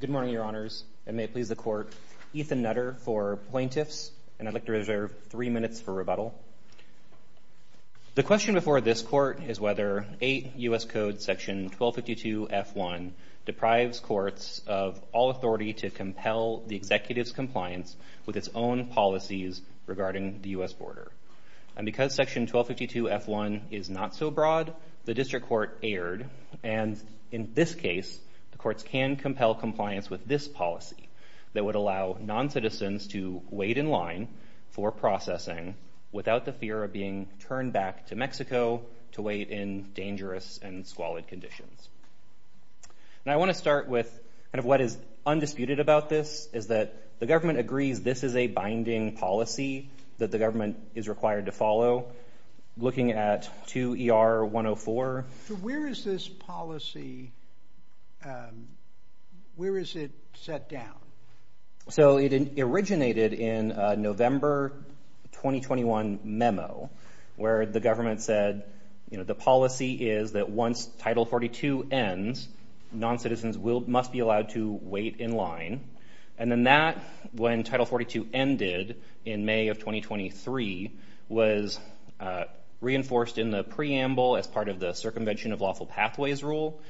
Good morning, Your Honors. It may please the Court, Ethan Nutter for Plaintiffs, and I'd like to reserve three minutes for rebuttal. The question before this Court is whether 8 U.S. Code Section 1252-F1 deprives courts of all authority to compel the executive's compliance with its own policies regarding the U.S. border. And because Section 1252-F1 is not so broad, the District Court erred, and in this case, the courts can compel compliance with this policy that would allow noncitizens to wait in line for processing without the fear of being turned back to Mexico to wait in dangerous and squalid conditions. Now, I want to start with kind of what is undisputed about this, is that the government agrees this is a binding policy that the government is required to follow. Looking at 2 ER 104. Where is this policy, where is it set down? So it originated in a November 2021 memo, where the government said, you know, the policy is that once Title 42 ends, noncitizens must be allowed to wait in line. And then that, when Title 42 ended in May of 2023, was reinforced in the preamble as part of the Circumvention of Lawful Pathways Rule,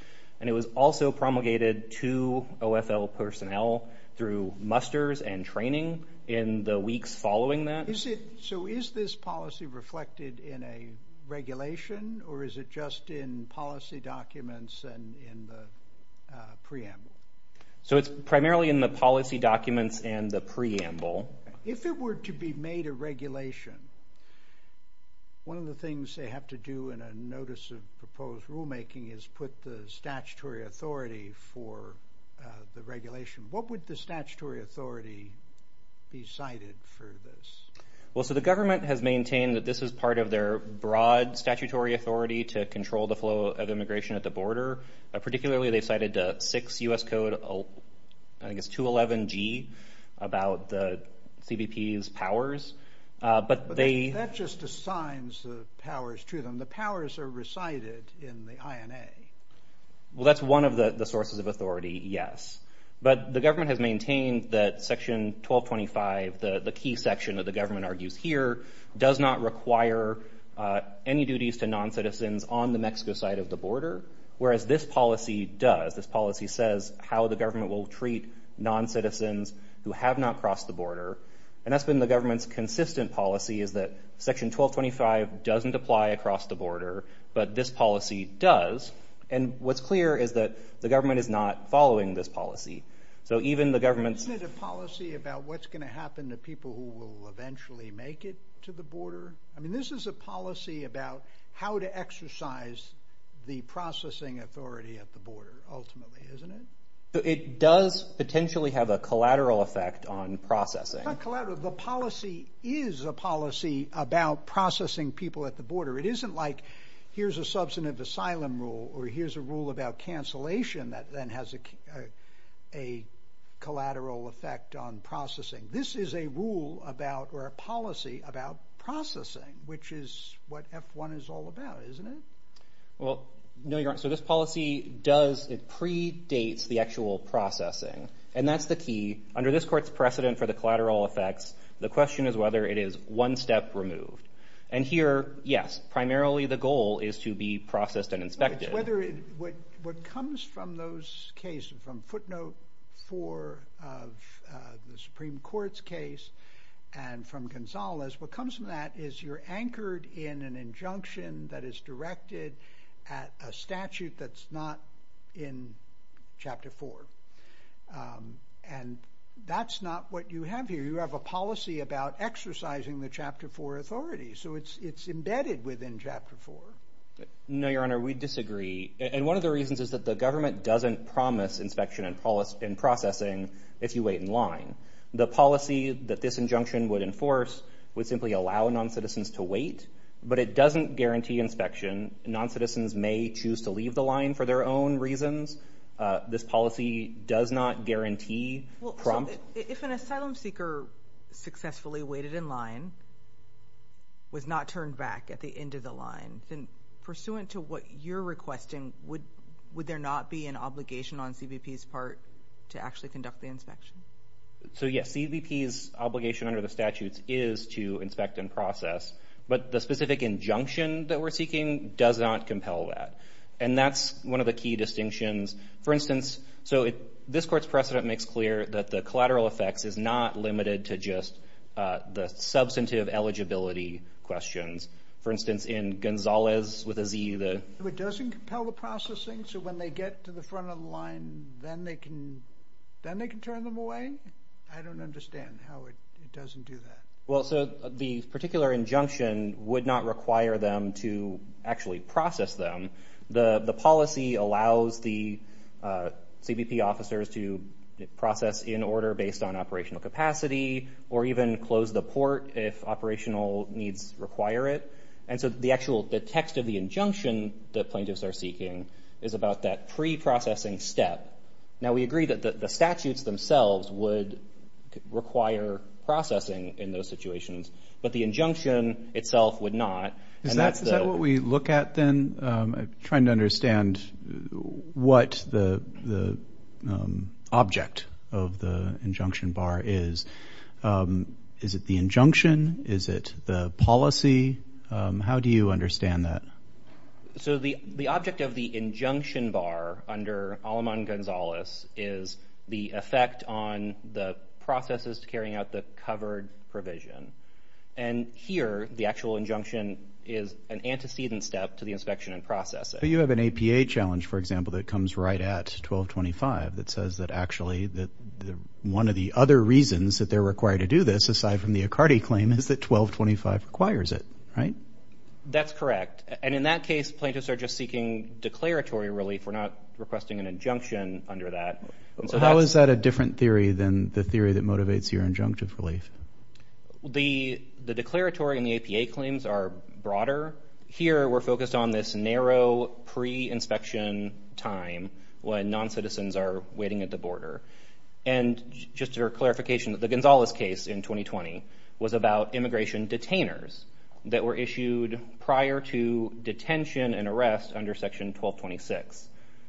and it was also promulgated to OFL personnel through musters and training in the weeks following that. So is this policy reflected in a regulation, or is it just in policy documents and in the preamble? So it's primarily in the policy documents and the preamble. If it were to be made a regulation, one of the things they have to do in a notice of proposed rulemaking is put the statutory authority for the regulation. What would the statutory authority be cited for this? Well, so the government has maintained that this is part of their broad statutory authority to control the flow of immigration at the border. Particularly they've cited 6 U.S. Code, I guess, 211G, about the CBP's powers. But they... That just assigns the powers to them. The powers are recited in the INA. Well, that's one of the sources of authority, yes. But the government has maintained that Section 1225, the key section that the government argues here, does not require any duties to non-citizens on the Mexico side of the border. Whereas this policy does. This policy says how the government will treat non-citizens who have not crossed the border. And that's been the government's consistent policy, is that Section 1225 doesn't apply across the border, but this policy does. And what's clear is that the government is not following this policy. So even the government's... Isn't it a policy about what's going to happen to people who will eventually make it to the border? I mean, this is a policy about how to exercise the processing authority at the border, ultimately, isn't it? So it does potentially have a collateral effect on processing. Not collateral. The policy is a policy about processing people at the border. It isn't like, here's a substantive asylum rule, or here's a rule about cancellation that then has a collateral effect on processing. This is a rule about, or a policy about processing, which is what F-1 is all about, isn't it? Well, no, Your Honor. So this policy does, it predates the actual processing. And that's the key. Under this court's precedent for the collateral effects, the question is whether it is one step removed. And here, yes, primarily the goal is to be processed and inspected. What comes from those cases, from footnote four of the Supreme Court's case, and from Gonzales, what comes from that is you're anchored in an injunction that is directed at a statute that's not in chapter four. And that's not what you have here. You have a policy about exercising the chapter four authority, so it's embedded within chapter four. No, Your Honor. We disagree. And one of the reasons is that the government doesn't promise inspection and processing if you wait in line. The policy that this injunction would enforce would simply allow non-citizens to wait, but it doesn't guarantee inspection. Non-citizens may choose to leave the line for their own reasons. This policy does not guarantee prompt. If an asylum seeker successfully waited in line, was not turned back at the end of the line, then pursuant to what you're requesting, would there not be an obligation on CBP's part to actually conduct the inspection? So yes, CBP's obligation under the statutes is to inspect and process, but the specific injunction that we're seeking does not compel that. And that's one of the key distinctions. For instance, so this court's precedent makes clear that the collateral effects is not limited to just the substantive eligibility questions. For instance, in Gonzales with a Z, the... It doesn't compel the processing, so when they get to the front of the line, then they can turn them away? I don't understand how it doesn't do that. Well, so the particular injunction would not require them to actually process them. The policy allows the CBP officers to process in order based on operational capacity, or even close the port if operational needs require it. And so the actual... The text of the injunction that plaintiffs are seeking is about that pre-processing step. Now we agree that the statutes themselves would require processing in those situations, but the injunction itself would not. Is that what we look at then? Trying to understand what the object of the injunction bar is. Is it the injunction? Is it the policy? How do you understand that? So the object of the injunction bar under Aleman-Gonzales is the effect on the processes carrying out the covered provision. And here, the actual injunction is an antecedent step to the inspection and processing. You have an APA challenge, for example, that comes right at 1225 that says that actually one of the other reasons that they're required to do this, aside from the Accardi claim, is that 1225 requires it, right? That's correct. And in that case, plaintiffs are just seeking declaratory relief. We're not requesting an injunction under that. How is that a different theory than the theory that motivates your injunctive relief? The declaratory and the APA claims are broader. Here we're focused on this narrow pre-inspection time when noncitizens are waiting at the border. And just for clarification, the Gonzales case in 2020 was about immigration detainers that were issued prior to detention and arrest under section 1226.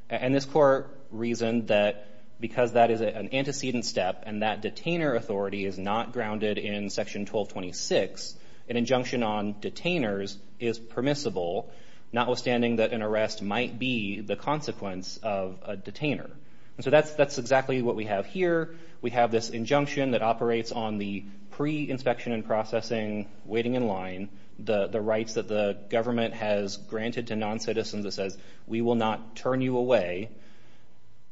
And this court reasoned that because that is an antecedent step and that detainer authority is not grounded in section 1226, an injunction on detainers is permissible, notwithstanding that an arrest might be the consequence of a detainer. And so that's exactly what we have here. We have this injunction that operates on the pre-inspection and processing, waiting in line, the rights that the government has granted to noncitizens that says, we will not turn you away.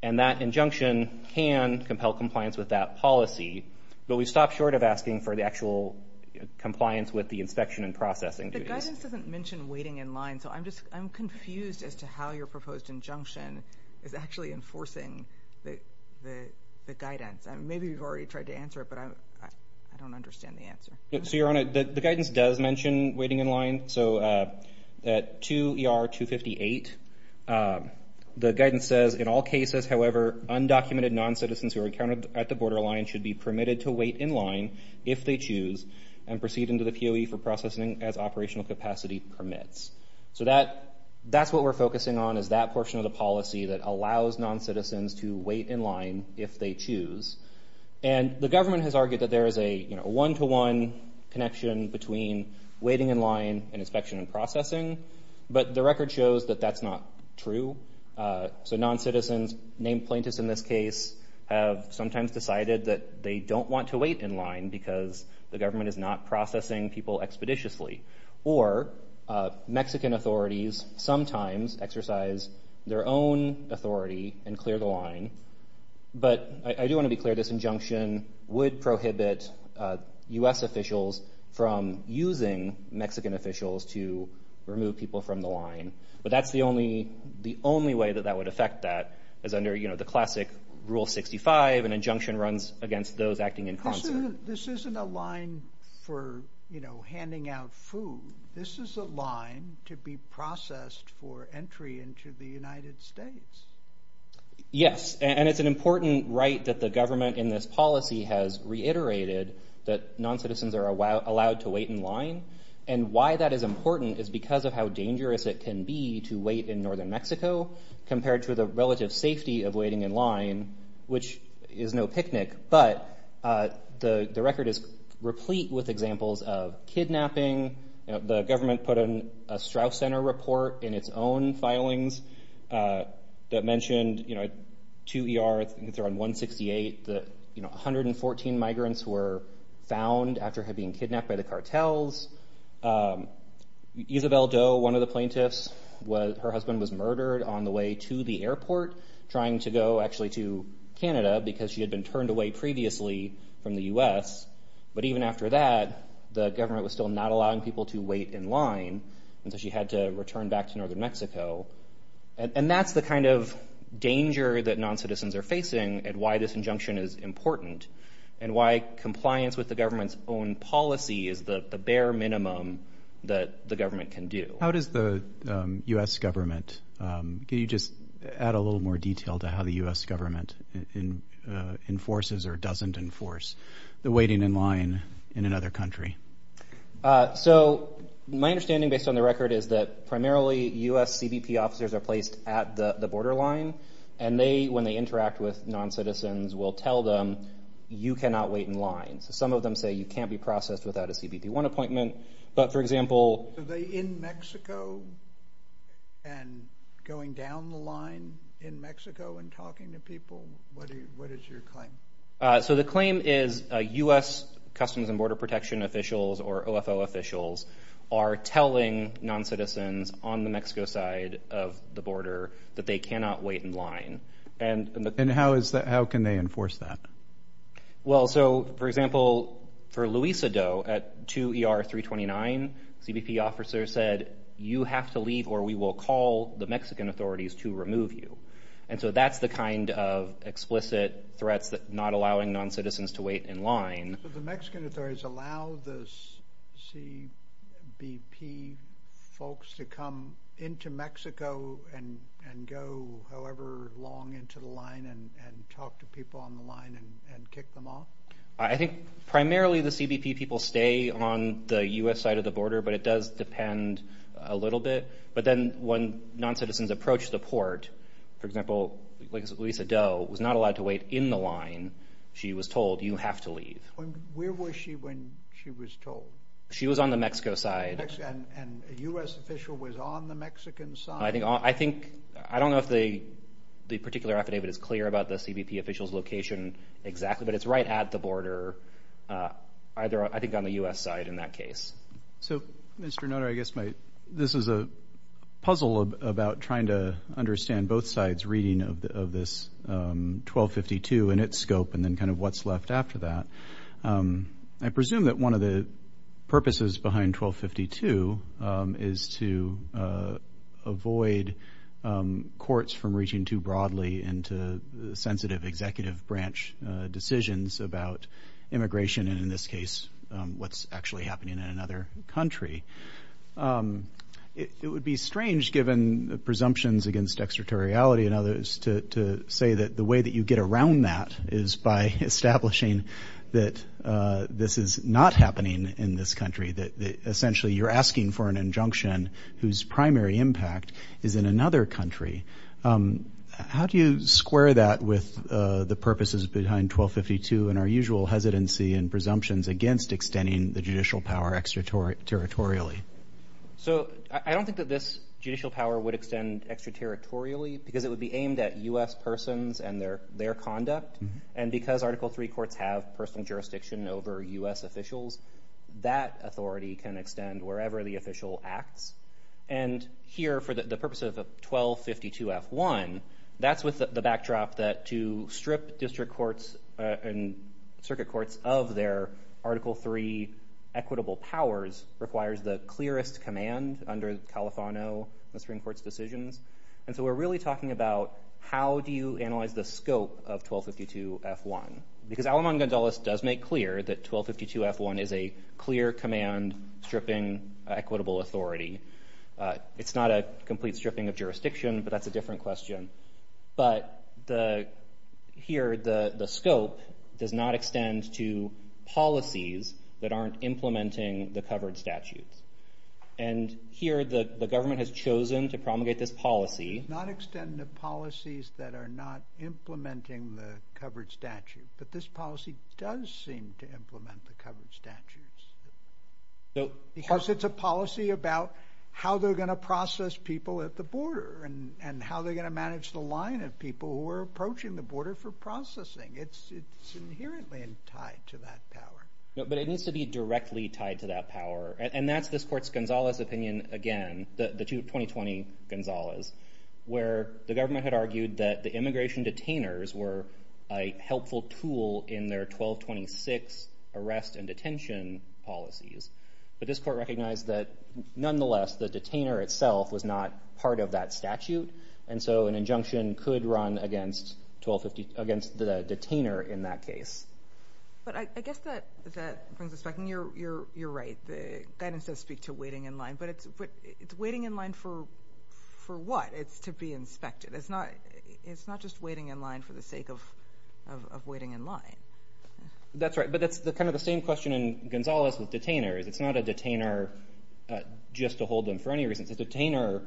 And that injunction can compel compliance with that policy. But we've stopped short of asking for the actual compliance with the inspection and processing duties. The guidance doesn't mention waiting in line, so I'm just, I'm confused as to how your proposed injunction is actually enforcing the guidance. Maybe you've already tried to answer it, but I don't understand the answer. So Your Honor, the guidance does mention waiting in line. So at 2 ER 258, the guidance says, in all cases, however, undocumented noncitizens who are permitted to wait in line if they choose and proceed into the POE for processing as operational capacity permits. So that's what we're focusing on, is that portion of the policy that allows noncitizens to wait in line if they choose. And the government has argued that there is a one-to-one connection between waiting in line and inspection and processing, but the record shows that that's not true. So noncitizens, named plaintiffs in this case, have sometimes decided that they don't want to wait in line because the government is not processing people expeditiously. Or Mexican authorities sometimes exercise their own authority and clear the line. But I do want to be clear, this injunction would prohibit U.S. officials from using Mexican officials to remove people from the line. But that's the only way that that would affect that, is under the classic Rule 65, an injunction runs against those acting in concert. This isn't a line for handing out food. This is a line to be processed for entry into the United States. Yes, and it's an important right that the government in this policy has reiterated, that noncitizens are allowed to wait in line. And why that is important is because of how dangerous it can be to wait in northern Mexico compared to the relative safety of waiting in line, which is no picnic. But the record is replete with examples of kidnapping. The government put a Straus Center report in its own filings that mentioned, you know, two ERs, I think they're on 168, that, you know, 114 migrants were found after being kidnapped by the cartels. Isabel Doe, one of the plaintiffs, her husband was murdered on the way to the airport trying to go actually to Canada because she had been turned away previously from the U.S. But even after that, the government was still not allowing people to wait in line, and so she had to return back to northern Mexico. And that's the kind of danger that noncitizens are facing and why this injunction is important and why compliance with the government's own policy is the bare minimum that the government can do. How does the U.S. government, can you just add a little more detail to how the U.S. government enforces or doesn't enforce the waiting in line in another country? So, my understanding based on the record is that primarily U.S. CBP officers are placed at the borderline, and they, when they interact with noncitizens, will tell them, you cannot wait in line. Some of them say you can't be processed without a CBP-1 appointment. But for example... So they're in Mexico and going down the line in Mexico and talking to people, what is your claim? So the claim is U.S. Customs and Border Protection officials or OFO officials are telling noncitizens on the Mexico side of the border that they cannot wait in line. And how is that, how can they enforce that? Well, so for example, for Luisa Doe, at 2 ER 329, CBP officers said, you have to leave or we will call the Mexican authorities to remove you. And so that's the kind of explicit threats that not allowing noncitizens to wait in line. So the Mexican authorities allow the CBP folks to come into Mexico and go however long into the line and talk to people on the line and kick them off? I think primarily the CBP people stay on the U.S. side of the border, but it does depend a little bit. But then when noncitizens approach the port, for example, Luisa Doe was not allowed to wait in the line. She was told, you have to leave. Where was she when she was told? She was on the Mexico side. And a U.S. official was on the Mexican side? I think, I don't know if the particular affidavit is clear about the CBP officials' location exactly, but it's right at the border, either I think on the U.S. side in that case. So, Mr. Nutter, I guess this is a puzzle about trying to understand both sides' reading of this 1252 and its scope and then kind of what's left after that. I presume that one of the purposes behind 1252 is to avoid courts from reaching too broadly into sensitive executive branch decisions about immigration and, in this case, what's actually happening in another country. It would be strange, given the presumptions against extraterritoriality and others, to say that the way that you get around that is by establishing that this is not happening in this country, that essentially you're asking for an injunction whose primary impact is in another country. How do you square that with the purposes behind 1252 and our usual hesitancy and presumptions against extending the judicial power extraterritorially? So I don't think that this judicial power would extend extraterritorially because it would be aimed at U.S. persons and their conduct. And because Article III courts have personal jurisdiction over U.S. officials, that authority can extend wherever the official acts. And here, for the purpose of 1252F1, that's with the backdrop that to strip district courts and circuit courts of their Article III equitable powers requires the clearest command under Califano and the Supreme Court's decisions. And so we're really talking about how do you analyze the scope of 1252F1? Because Alamán-González does make clear that 1252F1 is a clear command stripping equitable authority. It's not a complete stripping of jurisdiction, but that's a different question. But here, the scope does not extend to policies that aren't implementing the covered statutes. And here, the government has chosen to promulgate this policy. It does not extend to policies that are not implementing the covered statute, but this policy does seem to implement the covered statutes. Because it's a policy about how they're going to process people at the border and how they're going to manage the line of people who are approaching the border for processing. It's inherently tied to that power. No, but it needs to be directly tied to that power. And that's this court's González opinion again, the 2020 González, where the government had argued that the immigration detainers were a helpful tool in their 1226 arrest and detention policies. But this court recognized that nonetheless, the detainer itself was not part of that statute. And so an injunction could run against the detainer in that case. But I guess that brings us back, and you're right, the guidance does speak to waiting in line. But it's waiting in line for what? It's to be inspected. It's not just waiting in line for the sake of waiting in line. That's right. But that's kind of the same question in González with detainers. It's not a detainer just to hold them for any reason. It's a detainer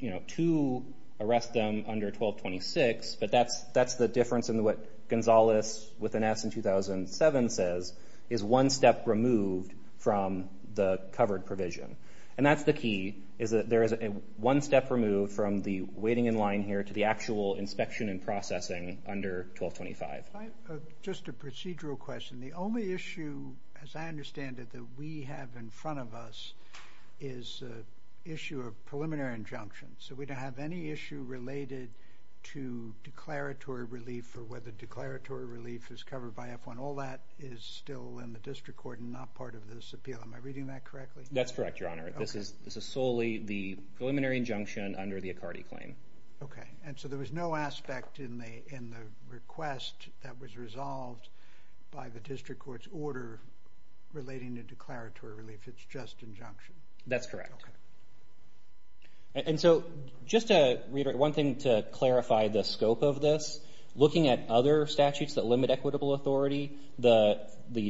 to arrest them under 1226, but that's the difference in what González with an S in 2007 says, is one step removed from the covered provision. And that's the key, is that there is one step removed from the waiting in line here to the actual inspection and processing under 1225. Just a procedural question. The only issue, as I understand it, that we have in front of us is the issue of preliminary injunction. So we don't have any issue related to declaratory relief or whether declaratory relief is covered by F-1. All that is still in the district court and not part of this appeal. Am I reading that correctly? That's correct, Your Honor. Okay. This is solely the preliminary injunction under the Accardi claim. Okay. And so there was no aspect in the request that was resolved by the district court's order relating to declaratory relief. It's just injunction. That's correct. And so just to reiterate, one thing to clarify the scope of this, looking at other statutes that limit equitable authority, the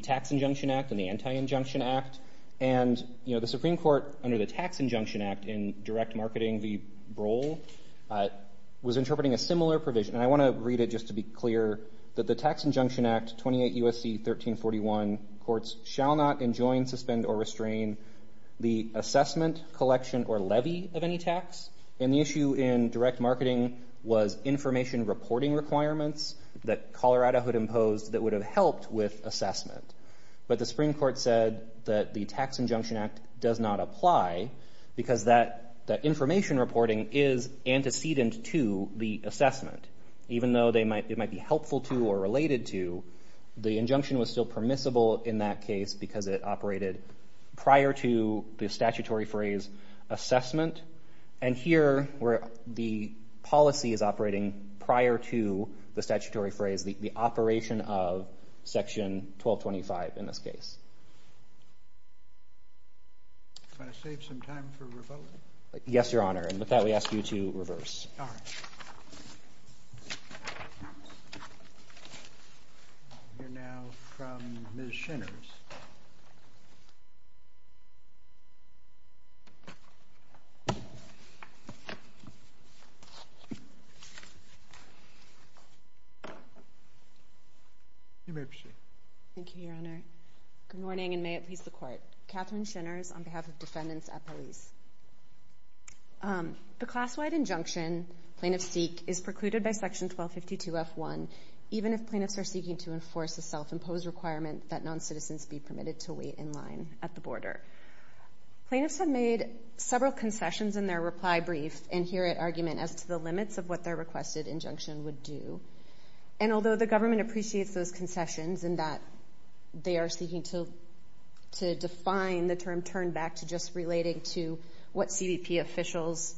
Tax Injunction Act and the Anti-Injunction Act, and the Supreme Court under the Tax Injunction Act in direct marketing, the BROL, was interpreting a similar provision. And I want to read it just to be clear that the Tax Injunction Act, 28 U.S.C. 1341, courts shall not enjoin, suspend, or restrain the assessment, collection, or levy of any tax. And the issue in direct marketing was information reporting requirements that Colorado had imposed that would have helped with assessment. But the Supreme Court said that the Tax Injunction Act does not apply because that information reporting is antecedent to the assessment. Even though it might be helpful to or related to, the injunction was still permissible in that case because it operated prior to the statutory phrase assessment. And here where the policy is operating prior to the statutory phrase, the operation of Section 1225 in this case. Can I save some time for rebuttal? Yes, Your Honor. And with that, we ask you to reverse. All right. We'll hear now from Ms. Shinners. You may proceed. Thank you. Thank you. Thank you, Your Honor. Good morning, and may it please the Court. Katherine Shinners on behalf of defendants at police. The class-wide injunction, Plaintiffs Seek, is precluded by Section 1252F1, even if plaintiffs are seeking to enforce a self-imposed requirement that noncitizens be permitted to wait in line at the border. Plaintiffs have made several concessions in their reply brief and here at argument as to the limits of what their requested injunction would do. And although the government appreciates those concessions and that they are seeking to define the term turn back to just relating to what CDP officials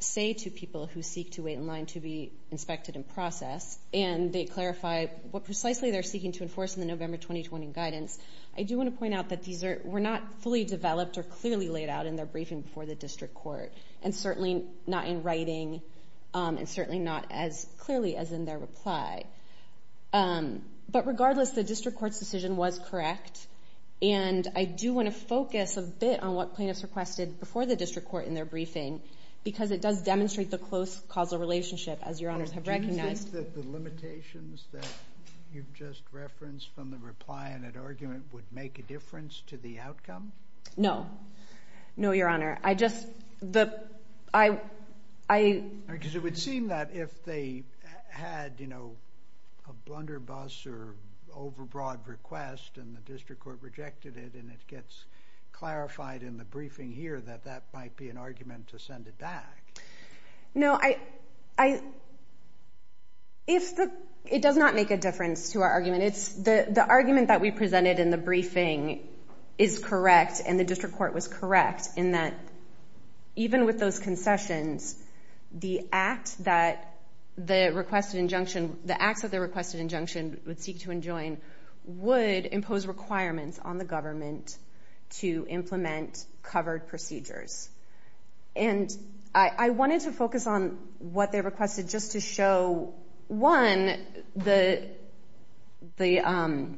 say to people who seek to wait in line to be inspected and processed, and they clarify what precisely they're seeking to enforce in the November 2020 guidance, I do want to point out that these were not fully developed or clearly laid out in their briefing before the district court, and certainly not in writing, and certainly not as clearly as in their reply. But regardless, the district court's decision was correct, and I do want to focus a bit on what plaintiffs requested before the district court in their briefing, because it does demonstrate the close causal relationship, as Your Honors have recognized. Do you think that the limitations that you've just referenced from the reply and at argument would make a difference to the outcome? No. No, Your Honor. I just, the, I, I... Because it would seem that if they had, you know, a blunder bus or overbroad request and the district court rejected it and it gets clarified in the briefing here that that might be an argument to send it back. No, I, I, if the, it does not make a difference to our argument. It's the, the argument that we presented in the briefing is correct, and the district court was correct in that even with those concessions, the act that the requested injunction, the acts of the requested injunction would seek to enjoin would impose requirements on the government to implement covered procedures. And I, I wanted to focus on what they requested just to show, one, the, the,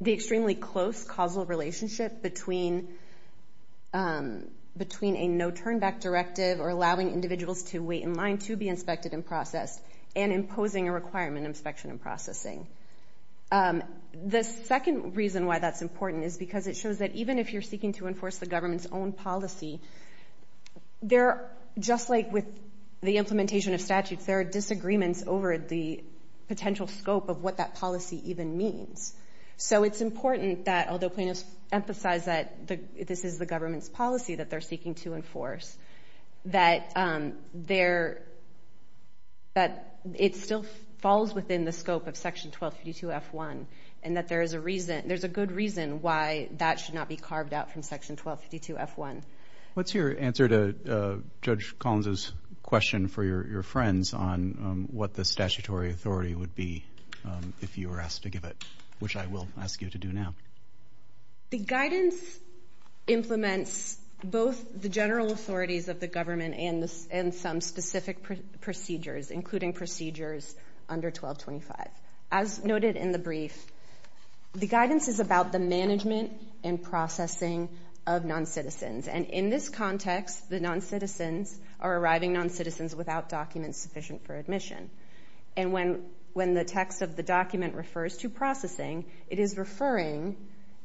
the extremely close causal relationship between, between a no-turnback directive or allowing individuals to wait in line to be inspected and processed and imposing a requirement inspection and processing. The second reason why that's important is because it shows that even if you're seeking to enforce the government's own policy, there, just like with the implementation of statutes, there are disagreements over the potential scope of what that policy even means. So it's important that, although plaintiffs emphasize that the, this is the government's policy that they're seeking to enforce, that there, that it still falls within the scope of Section 1252F1, and that there is a reason, there's a good reason why that should not be carved out from Section 1252F1. What's your answer to Judge Collins' question for your, your friends on what the statutory authority would be if you were asked to give it, which I will ask you to do now? The guidance implements both the general authorities of the government and the, and some specific procedures, including procedures under 1225. As noted in the brief, the guidance is about the management and processing of non-citizens. And in this context, the non-citizens are arriving non-citizens without documents sufficient for admission. And when, when the text of the document refers to processing, it is referring,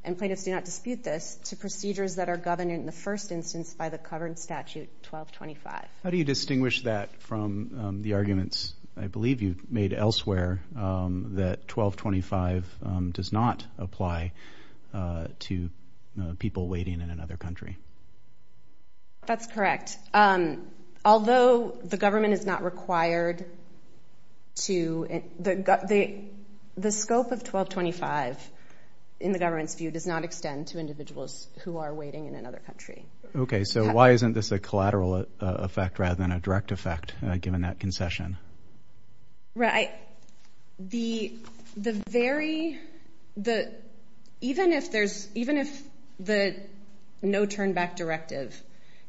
and plaintiffs do not dispute this, to procedures that are governed in the first instance by the covered statute 1225. How do you distinguish that from the arguments, I believe you've made elsewhere, that 1225 does not apply to people waiting in another country? That's correct. Although the government is not required to, the, the scope of 1225 in the government's view does not extend to individuals who are waiting in another country. Okay, so why isn't this a collateral effect rather than a direct effect, given that concession? Right, the, the very, the, even if there's, even if the no-turn-back directive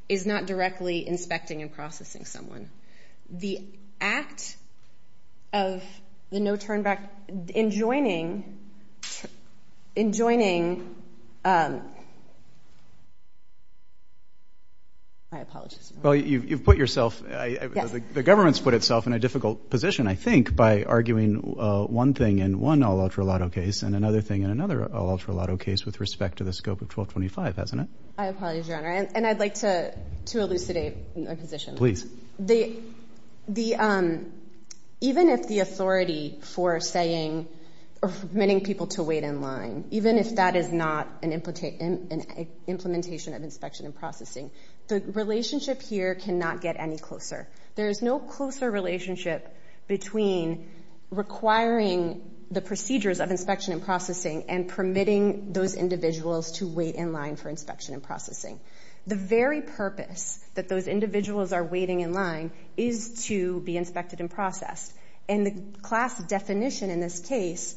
is not directly inspecting and processing someone, the act of the no-turn-back, enjoining, enjoining, I apologize. Well, you've, you've put yourself, the government's put itself in a difficult position, I think, by arguing one thing in one all-ultra-lato case and another thing in another all-ultra-lato case with respect to the scope of 1225, hasn't it? I apologize, Your Honor, and I'd like to, to elucidate a position. Please. The, the, even if the authority for saying, or permitting people to wait in line, even if that is not an, an implementation of inspection and processing, the relationship here cannot get any closer. There's no closer relationship between requiring the procedures of inspection and processing and permitting those individuals to wait in line for inspection and processing. The very purpose that those individuals are waiting in line is to be inspected and processed, and the class definition in this case,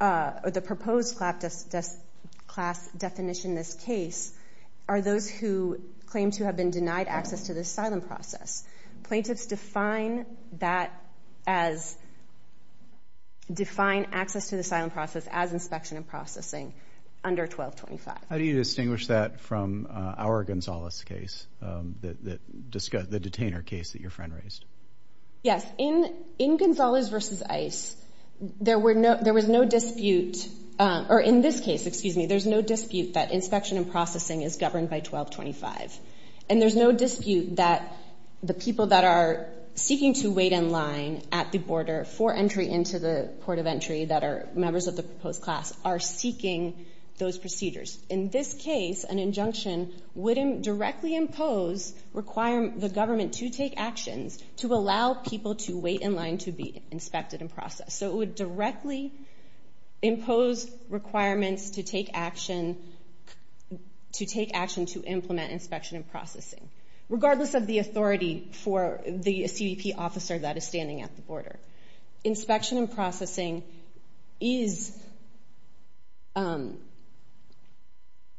or the proposed class definition in this case, are those who claim to have been denied access to the asylum process. Plaintiffs define that as, define access to the asylum process as inspection and processing under 1225. How do you distinguish that from our Gonzales case, the, the, the detainer case that your friend raised? Yes. In, in Gonzales v. Ice, there were no, there was no dispute, or in this case, excuse me, there's no dispute that inspection and processing is governed by 1225. And there's no dispute that the people that are seeking to wait in line at the border for entry into the port of entry that are members of the proposed class are seeking those procedures. In this case, an injunction would directly impose, require the government to take actions to allow people to wait in line to be inspected and processed. So it would directly impose requirements to take action, to take action to implement inspection and processing. Regardless of the authority for the CBP officer that is standing at the border. Inspection and processing is,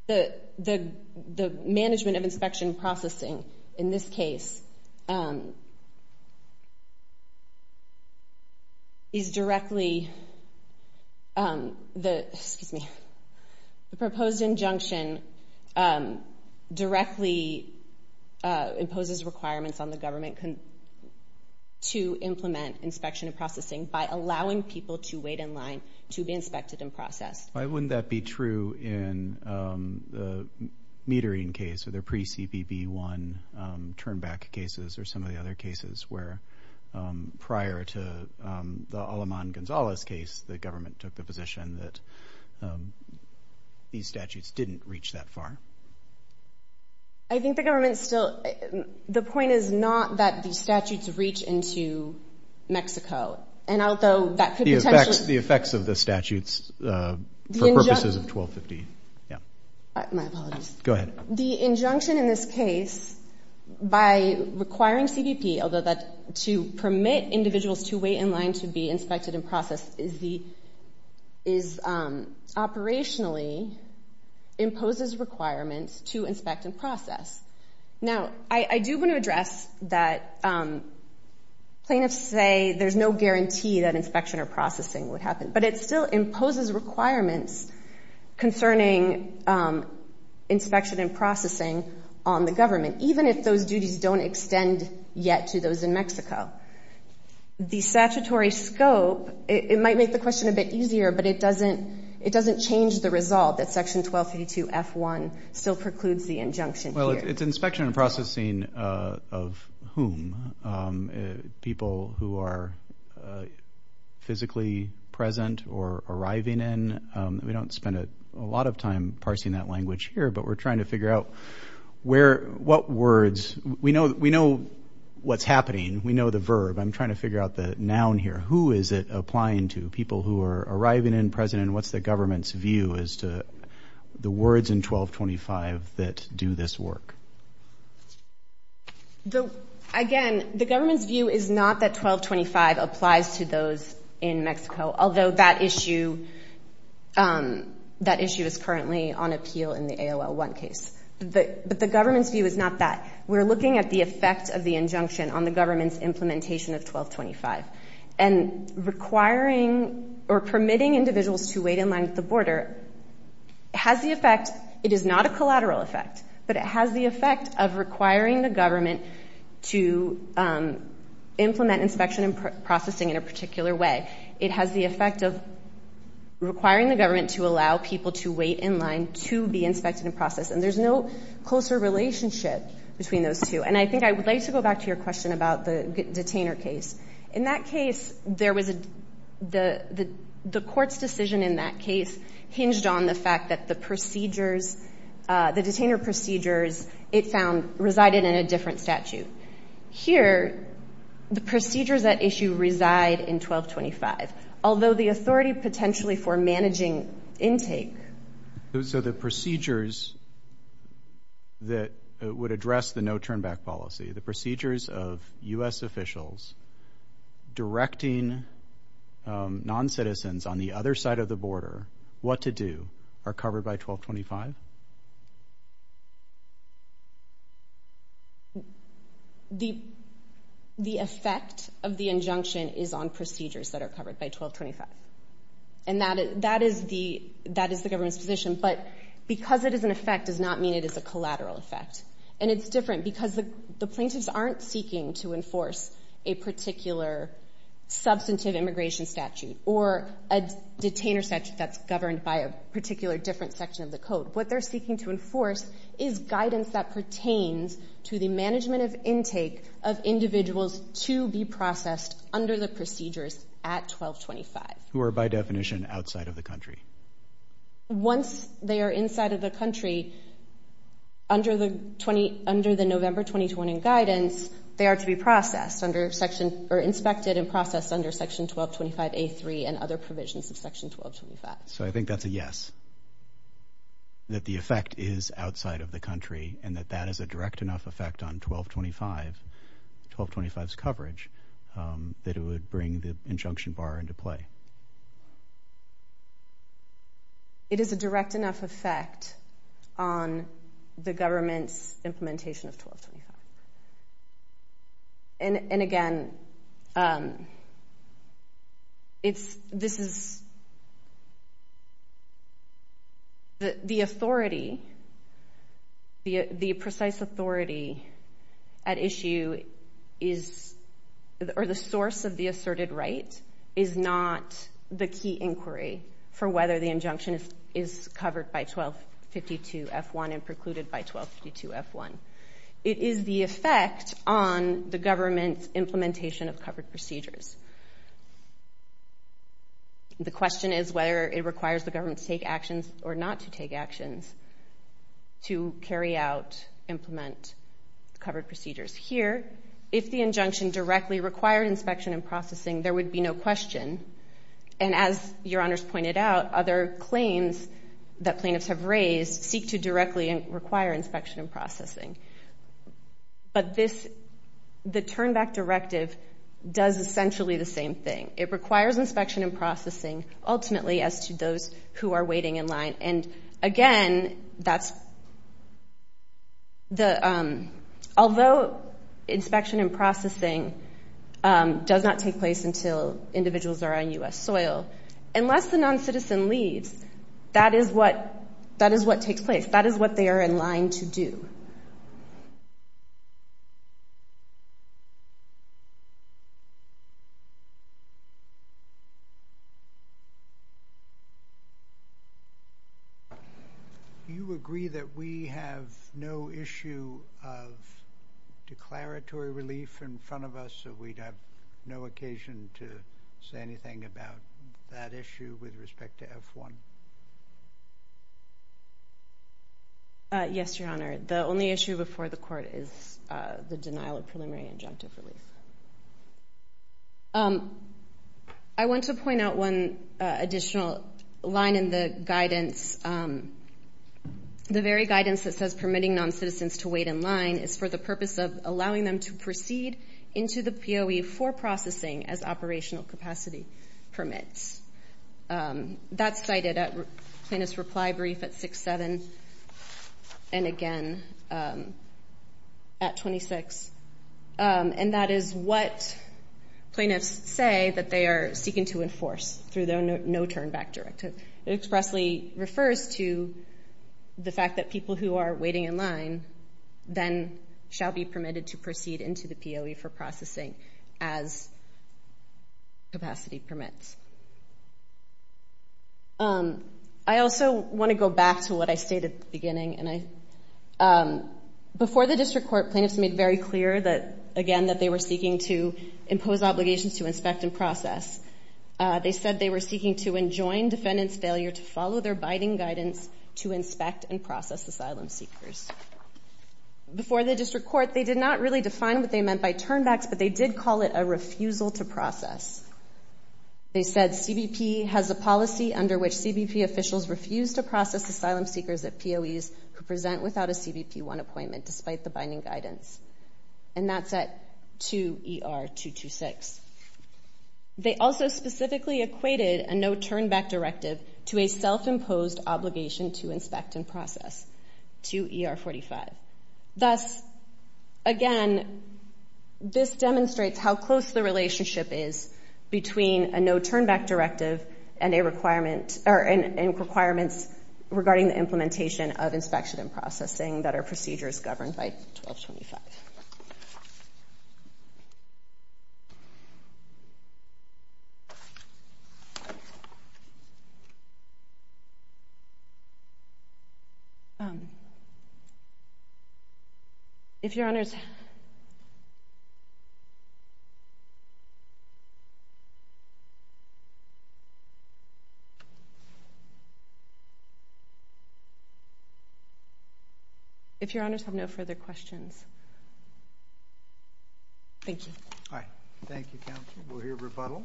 the, the, the management of inspection and processing in this case is directly the, excuse me, the proposed injunction directly imposes requirements on the government to implement inspection and processing by allowing people to wait in line to be inspected and processed. Why wouldn't that be true in the metering case, or the pre-CBP-1 turn back cases or some of the other cases where prior to the Aleman-Gonzales case, the government took the position that these statutes didn't reach that far? I think the government still, the point is not that the statutes reach into Mexico. And although that could potentially. The effects of the statutes for purposes of 1250. Yeah. My apologies. Go ahead. The injunction in this case by requiring CBP, although that to permit individuals to wait in line to be inspected and processed is the, is operationally imposes requirements to inspect and process. Now, I, I do want to address that plaintiffs say there's no guarantee that inspection or processing would happen, but it still imposes requirements concerning inspection and processing on the government, even if those duties don't extend yet to those in Mexico. The statutory scope, it might make the question a bit easier, but it doesn't, it doesn't change the resolve that section 1232 F1 still precludes the injunction. Well, it's inspection and processing of whom people who are physically present or arriving in. We don't spend a lot of time parsing that language here, but we're trying to figure out where, what words we know. We know what's happening. We know the verb. I'm trying to figure out the noun here. Who is it applying to? People who are arriving in present and what's the government's view as to the words in 1225 that do this work? The, again, the government's view is not that 1225 applies to those in Mexico, although that issue, that issue is currently on appeal in the AOL1 case, but the government's view is not that. We're looking at the effect of the injunction on the government's implementation of 1225 and requiring or permitting individuals to wait in line at the border has the effect, it is not a collateral effect, but it has the effect of requiring the government to implement inspection and processing in a particular way. It has the effect of requiring the government to allow people to wait in line to be inspected and processed, and there's no closer relationship between those two. And I think I would like to go back to your question about the detainer case. In that case, there was a, the court's decision in that case hinged on the fact that the procedures, the detainer procedures, it found, resided in a different statute. Here, the procedures at issue reside in 1225, although the authority potentially for managing intake. So the procedures that would address the no-turnback policy, the procedures of U.S. officials directing non-citizens on the other side of the border what to do, are covered by 1225? The effect of the injunction is on procedures that are covered by 1225, and that is the government's position. But because it is an effect does not mean it is a collateral effect. And it's different because the plaintiffs aren't seeking to enforce a particular substantive immigration statute or a detainer statute that's governed by a particular different section of the code. What they're seeking to enforce is guidance that pertains to the management of intake of individuals to be processed under the procedures at 1225. Who are, by definition, outside of the country? Once they are inside of the country, under the November 2020 guidance, they are to be processed under Section, or inspected and processed under Section 1225A3 and other provisions of Section 1225. So I think that's a yes, that the effect is outside of the country and that that is a direct enough effect on 1225, 1225's coverage, that it would bring the injunction bar into play. It is a direct enough effect on the government's implementation of 1225. And again, it's, this is, the authority, the precise authority at issue is, or the source of the asserted right, is not the key inquiry for whether the injunction is covered by 1252F1 and precluded by 1252F1. It is the effect on the government's implementation of covered procedures. The question is whether it requires the government to take actions or not to take actions to carry out, implement covered procedures. Here, if the injunction directly required inspection and processing, there would be no question. And as Your Honors pointed out, other claims that plaintiffs have raised seek to directly require inspection and processing. But this, the Turnback Directive does essentially the same thing. It requires inspection and processing ultimately as to those who are waiting in line. And again, that's the, although inspection and processing does not take place until individuals are on U.S. soil, unless the non-citizen leaves, that is what, that is what takes place. That is what they are in line to do. You agree that we have no issue of declaratory relief in front of us, so we'd have no occasion to say anything about that issue with respect to F1? Yes, Your Honor. The only issue before the Court is the denial of preliminary injunctive relief. I want to point out one additional line in the guidance. The very guidance that says permitting non-citizens to wait in line is for the purpose of allowing them to proceed into the POE for processing as operational capacity permits. That's cited at Plaintiff's reply brief at 6-7 and again at 26. And that is what plaintiffs say that they are seeking to enforce through their No Turnback Directive. It expressly refers to the fact that people who are waiting in line then shall be permitted to proceed into the POE for processing as capacity permits. I also want to go back to what I stated at the beginning. Before the District Court, plaintiffs made very clear that, again, that they were seeking to impose obligations to inspect and process. They said they were seeking to enjoin defendant's failure to follow their biding guidance to inspect and process asylum seekers. Before the District Court, they did not really define what they meant by turnbacks, but they did call it a refusal to process. They said CBP has a policy under which CBP officials refuse to process asylum seekers at POEs who present without a CBP-1 appointment despite the binding guidance. And that's at 2ER-226. They also specifically equated a No Turnback Directive to a self-imposed obligation to Thus, again, this demonstrates how close the relationship is between a No Turnback Directive and requirements regarding the implementation of inspection and processing that are procedures If Your Honors have no further questions, thank you. Thank you, Counsel. We'll hear rebuttal.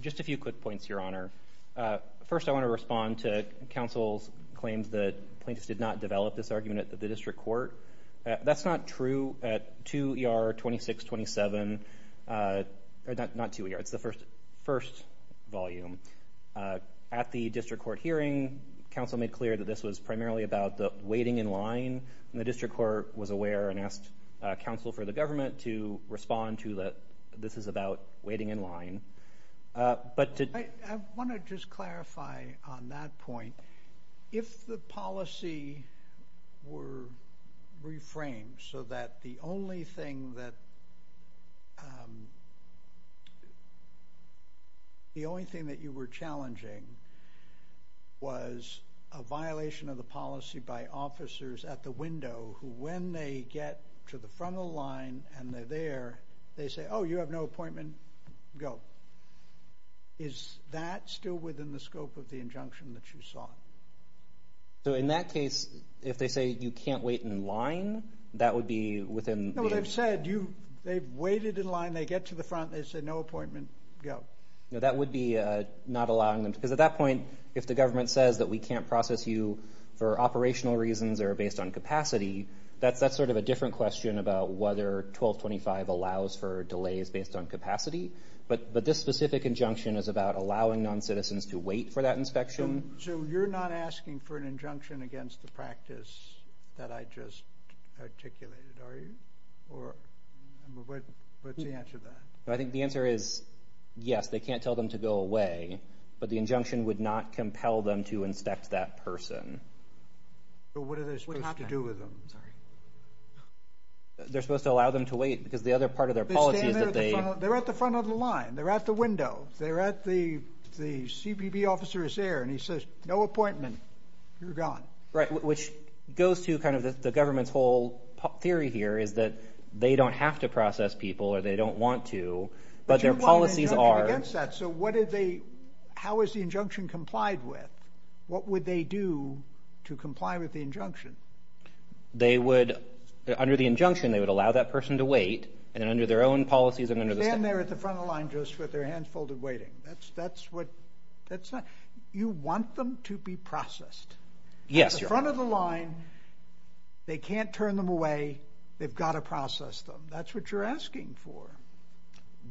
Just a few quick points, Your Honor. First, I want to respond to Counsel's claims that plaintiffs did not develop this argument at the District Court. That's not true at 2ER-2627, not 2ER, it's the first volume. At the District Court hearing, Counsel made clear that this was primarily about the waiting in line, and the District Court was aware and asked Counsel for the government to respond to that this is about waiting in line. But to- I want to just clarify on that point. If the policy were reframed so that the only thing that you were challenging was a violation of the policy by officers at the window who, when they get to the front of the line and they're there, they say, oh, you have no appointment, go. Is that still within the scope of the injunction that you saw? So in that case, if they say you can't wait in line, that would be within- No, they've said they've waited in line, they get to the front, they say no appointment, go. No, that would be not allowing them, because at that point, if the government says that we can't process you for operational reasons or based on capacity, that's sort of a different question about whether 1225 allows for delays based on capacity. But this specific injunction is about allowing non-citizens to wait for that inspection. So you're not asking for an injunction against the practice that I just articulated, are you? Or what's the answer to that? I think the answer is yes, they can't tell them to go away, but the injunction would not compel them to inspect that person. But what are they supposed to do with them? They're supposed to allow them to wait, because the other part of their policy is that they- They're at the front of the line, they're at the window, they're at the, the CBP officer is there and he says, no appointment, you're gone. Right, which goes to kind of the government's whole theory here is that they don't have to process people or they don't want to, but their policies are- How is the injunction complied with? What would they do to comply with the injunction? They would, under the injunction, they would allow that person to wait and then under their own policies and under the- They're standing there at the front of the line just with their hands folded waiting. That's what, that's not, you want them to be processed. Yes, Your Honor. At the front of the line, they can't turn them away, they've got to process them. That's what you're asking for.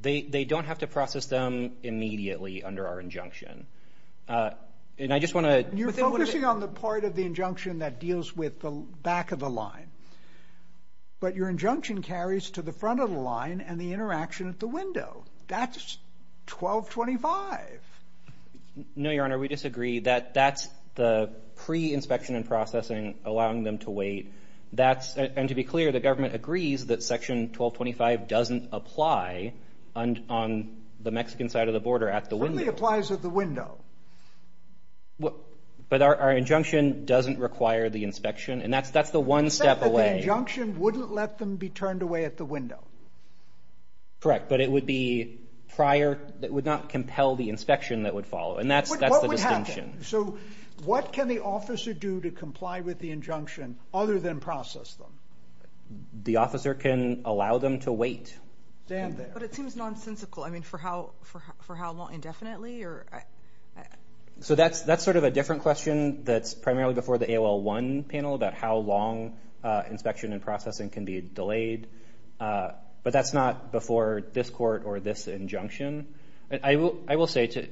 They don't have to process them immediately under our injunction. And I just want to- You're focusing on the part of the injunction that deals with the back of the line, but your injunction carries to the front of the line and the interaction at the window. That's 1225. No, Your Honor, we disagree that that's the pre-inspection and processing, allowing them to wait. And to be clear, the government agrees that section 1225 doesn't apply on the Mexican side of the border at the window. It only applies at the window. But our injunction doesn't require the inspection and that's the one step away. You said that the injunction wouldn't let them be turned away at the window. Correct, but it would be prior, it would not compel the inspection that would follow and that's the distinction. So what can the officer do to comply with the injunction other than process them? The officer can allow them to wait. Stand there. But it seems nonsensical. I mean, for how long indefinitely? So that's sort of a different question that's primarily before the AOL1 panel about how long inspection and processing can be delayed. But that's not before this court or this injunction. I will say to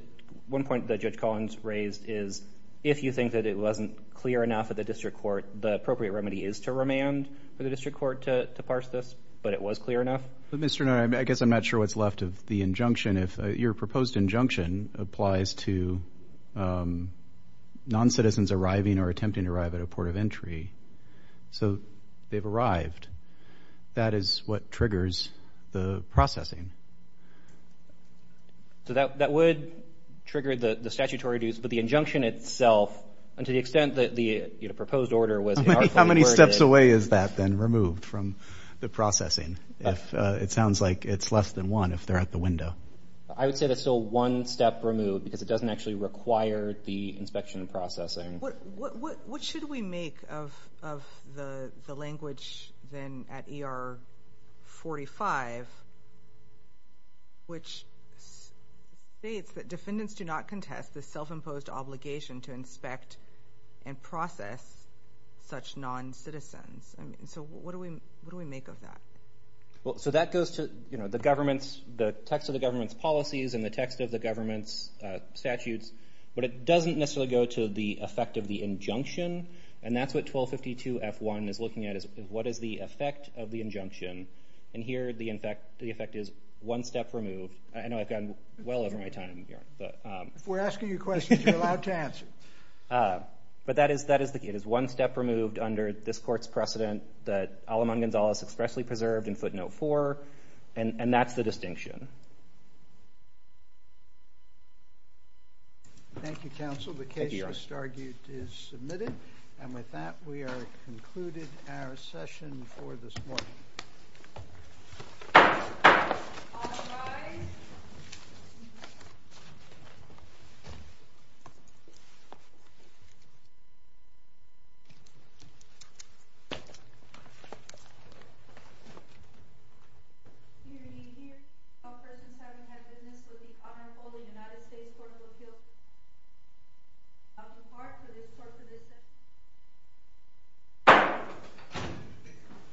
one point that Judge Collins raised is if you think that it wasn't clear enough at the district court, the appropriate remedy is to remand for the district court to parse this. But it was clear enough. But Mr. Nutter, I guess I'm not sure what's left of the injunction if your proposed injunction applies to non-citizens arriving or attempting to arrive at a port of entry. So they've arrived. That is what triggers the processing. So that would trigger the statutory dues, but the injunction itself, and to the extent that the proposed order was... How many steps away is that then removed from the processing if it sounds like it's less than one if they're at the window? I would say that's still one step removed because it doesn't actually require the inspection and processing. What should we make of the language then at ER 45 which states that defendants do not contest the self-imposed obligation to inspect and process such non-citizens? So what do we make of that? So that goes to the text of the government's policies and the text of the government's What is the effect of the injunction? And that's what 1252 F1 is looking at is what is the effect of the injunction? And here the effect is one step removed. I know I've gone well over my time here, but... If we're asking you questions, you're allowed to answer. But that is the case. It is one step removed under this court's precedent that Alamon Gonzalez expressly preserved in footnote four. And that's the distinction. Thank you, counsel. The case for Stargate is submitted. And with that, we are concluded our session for this morning. All rise.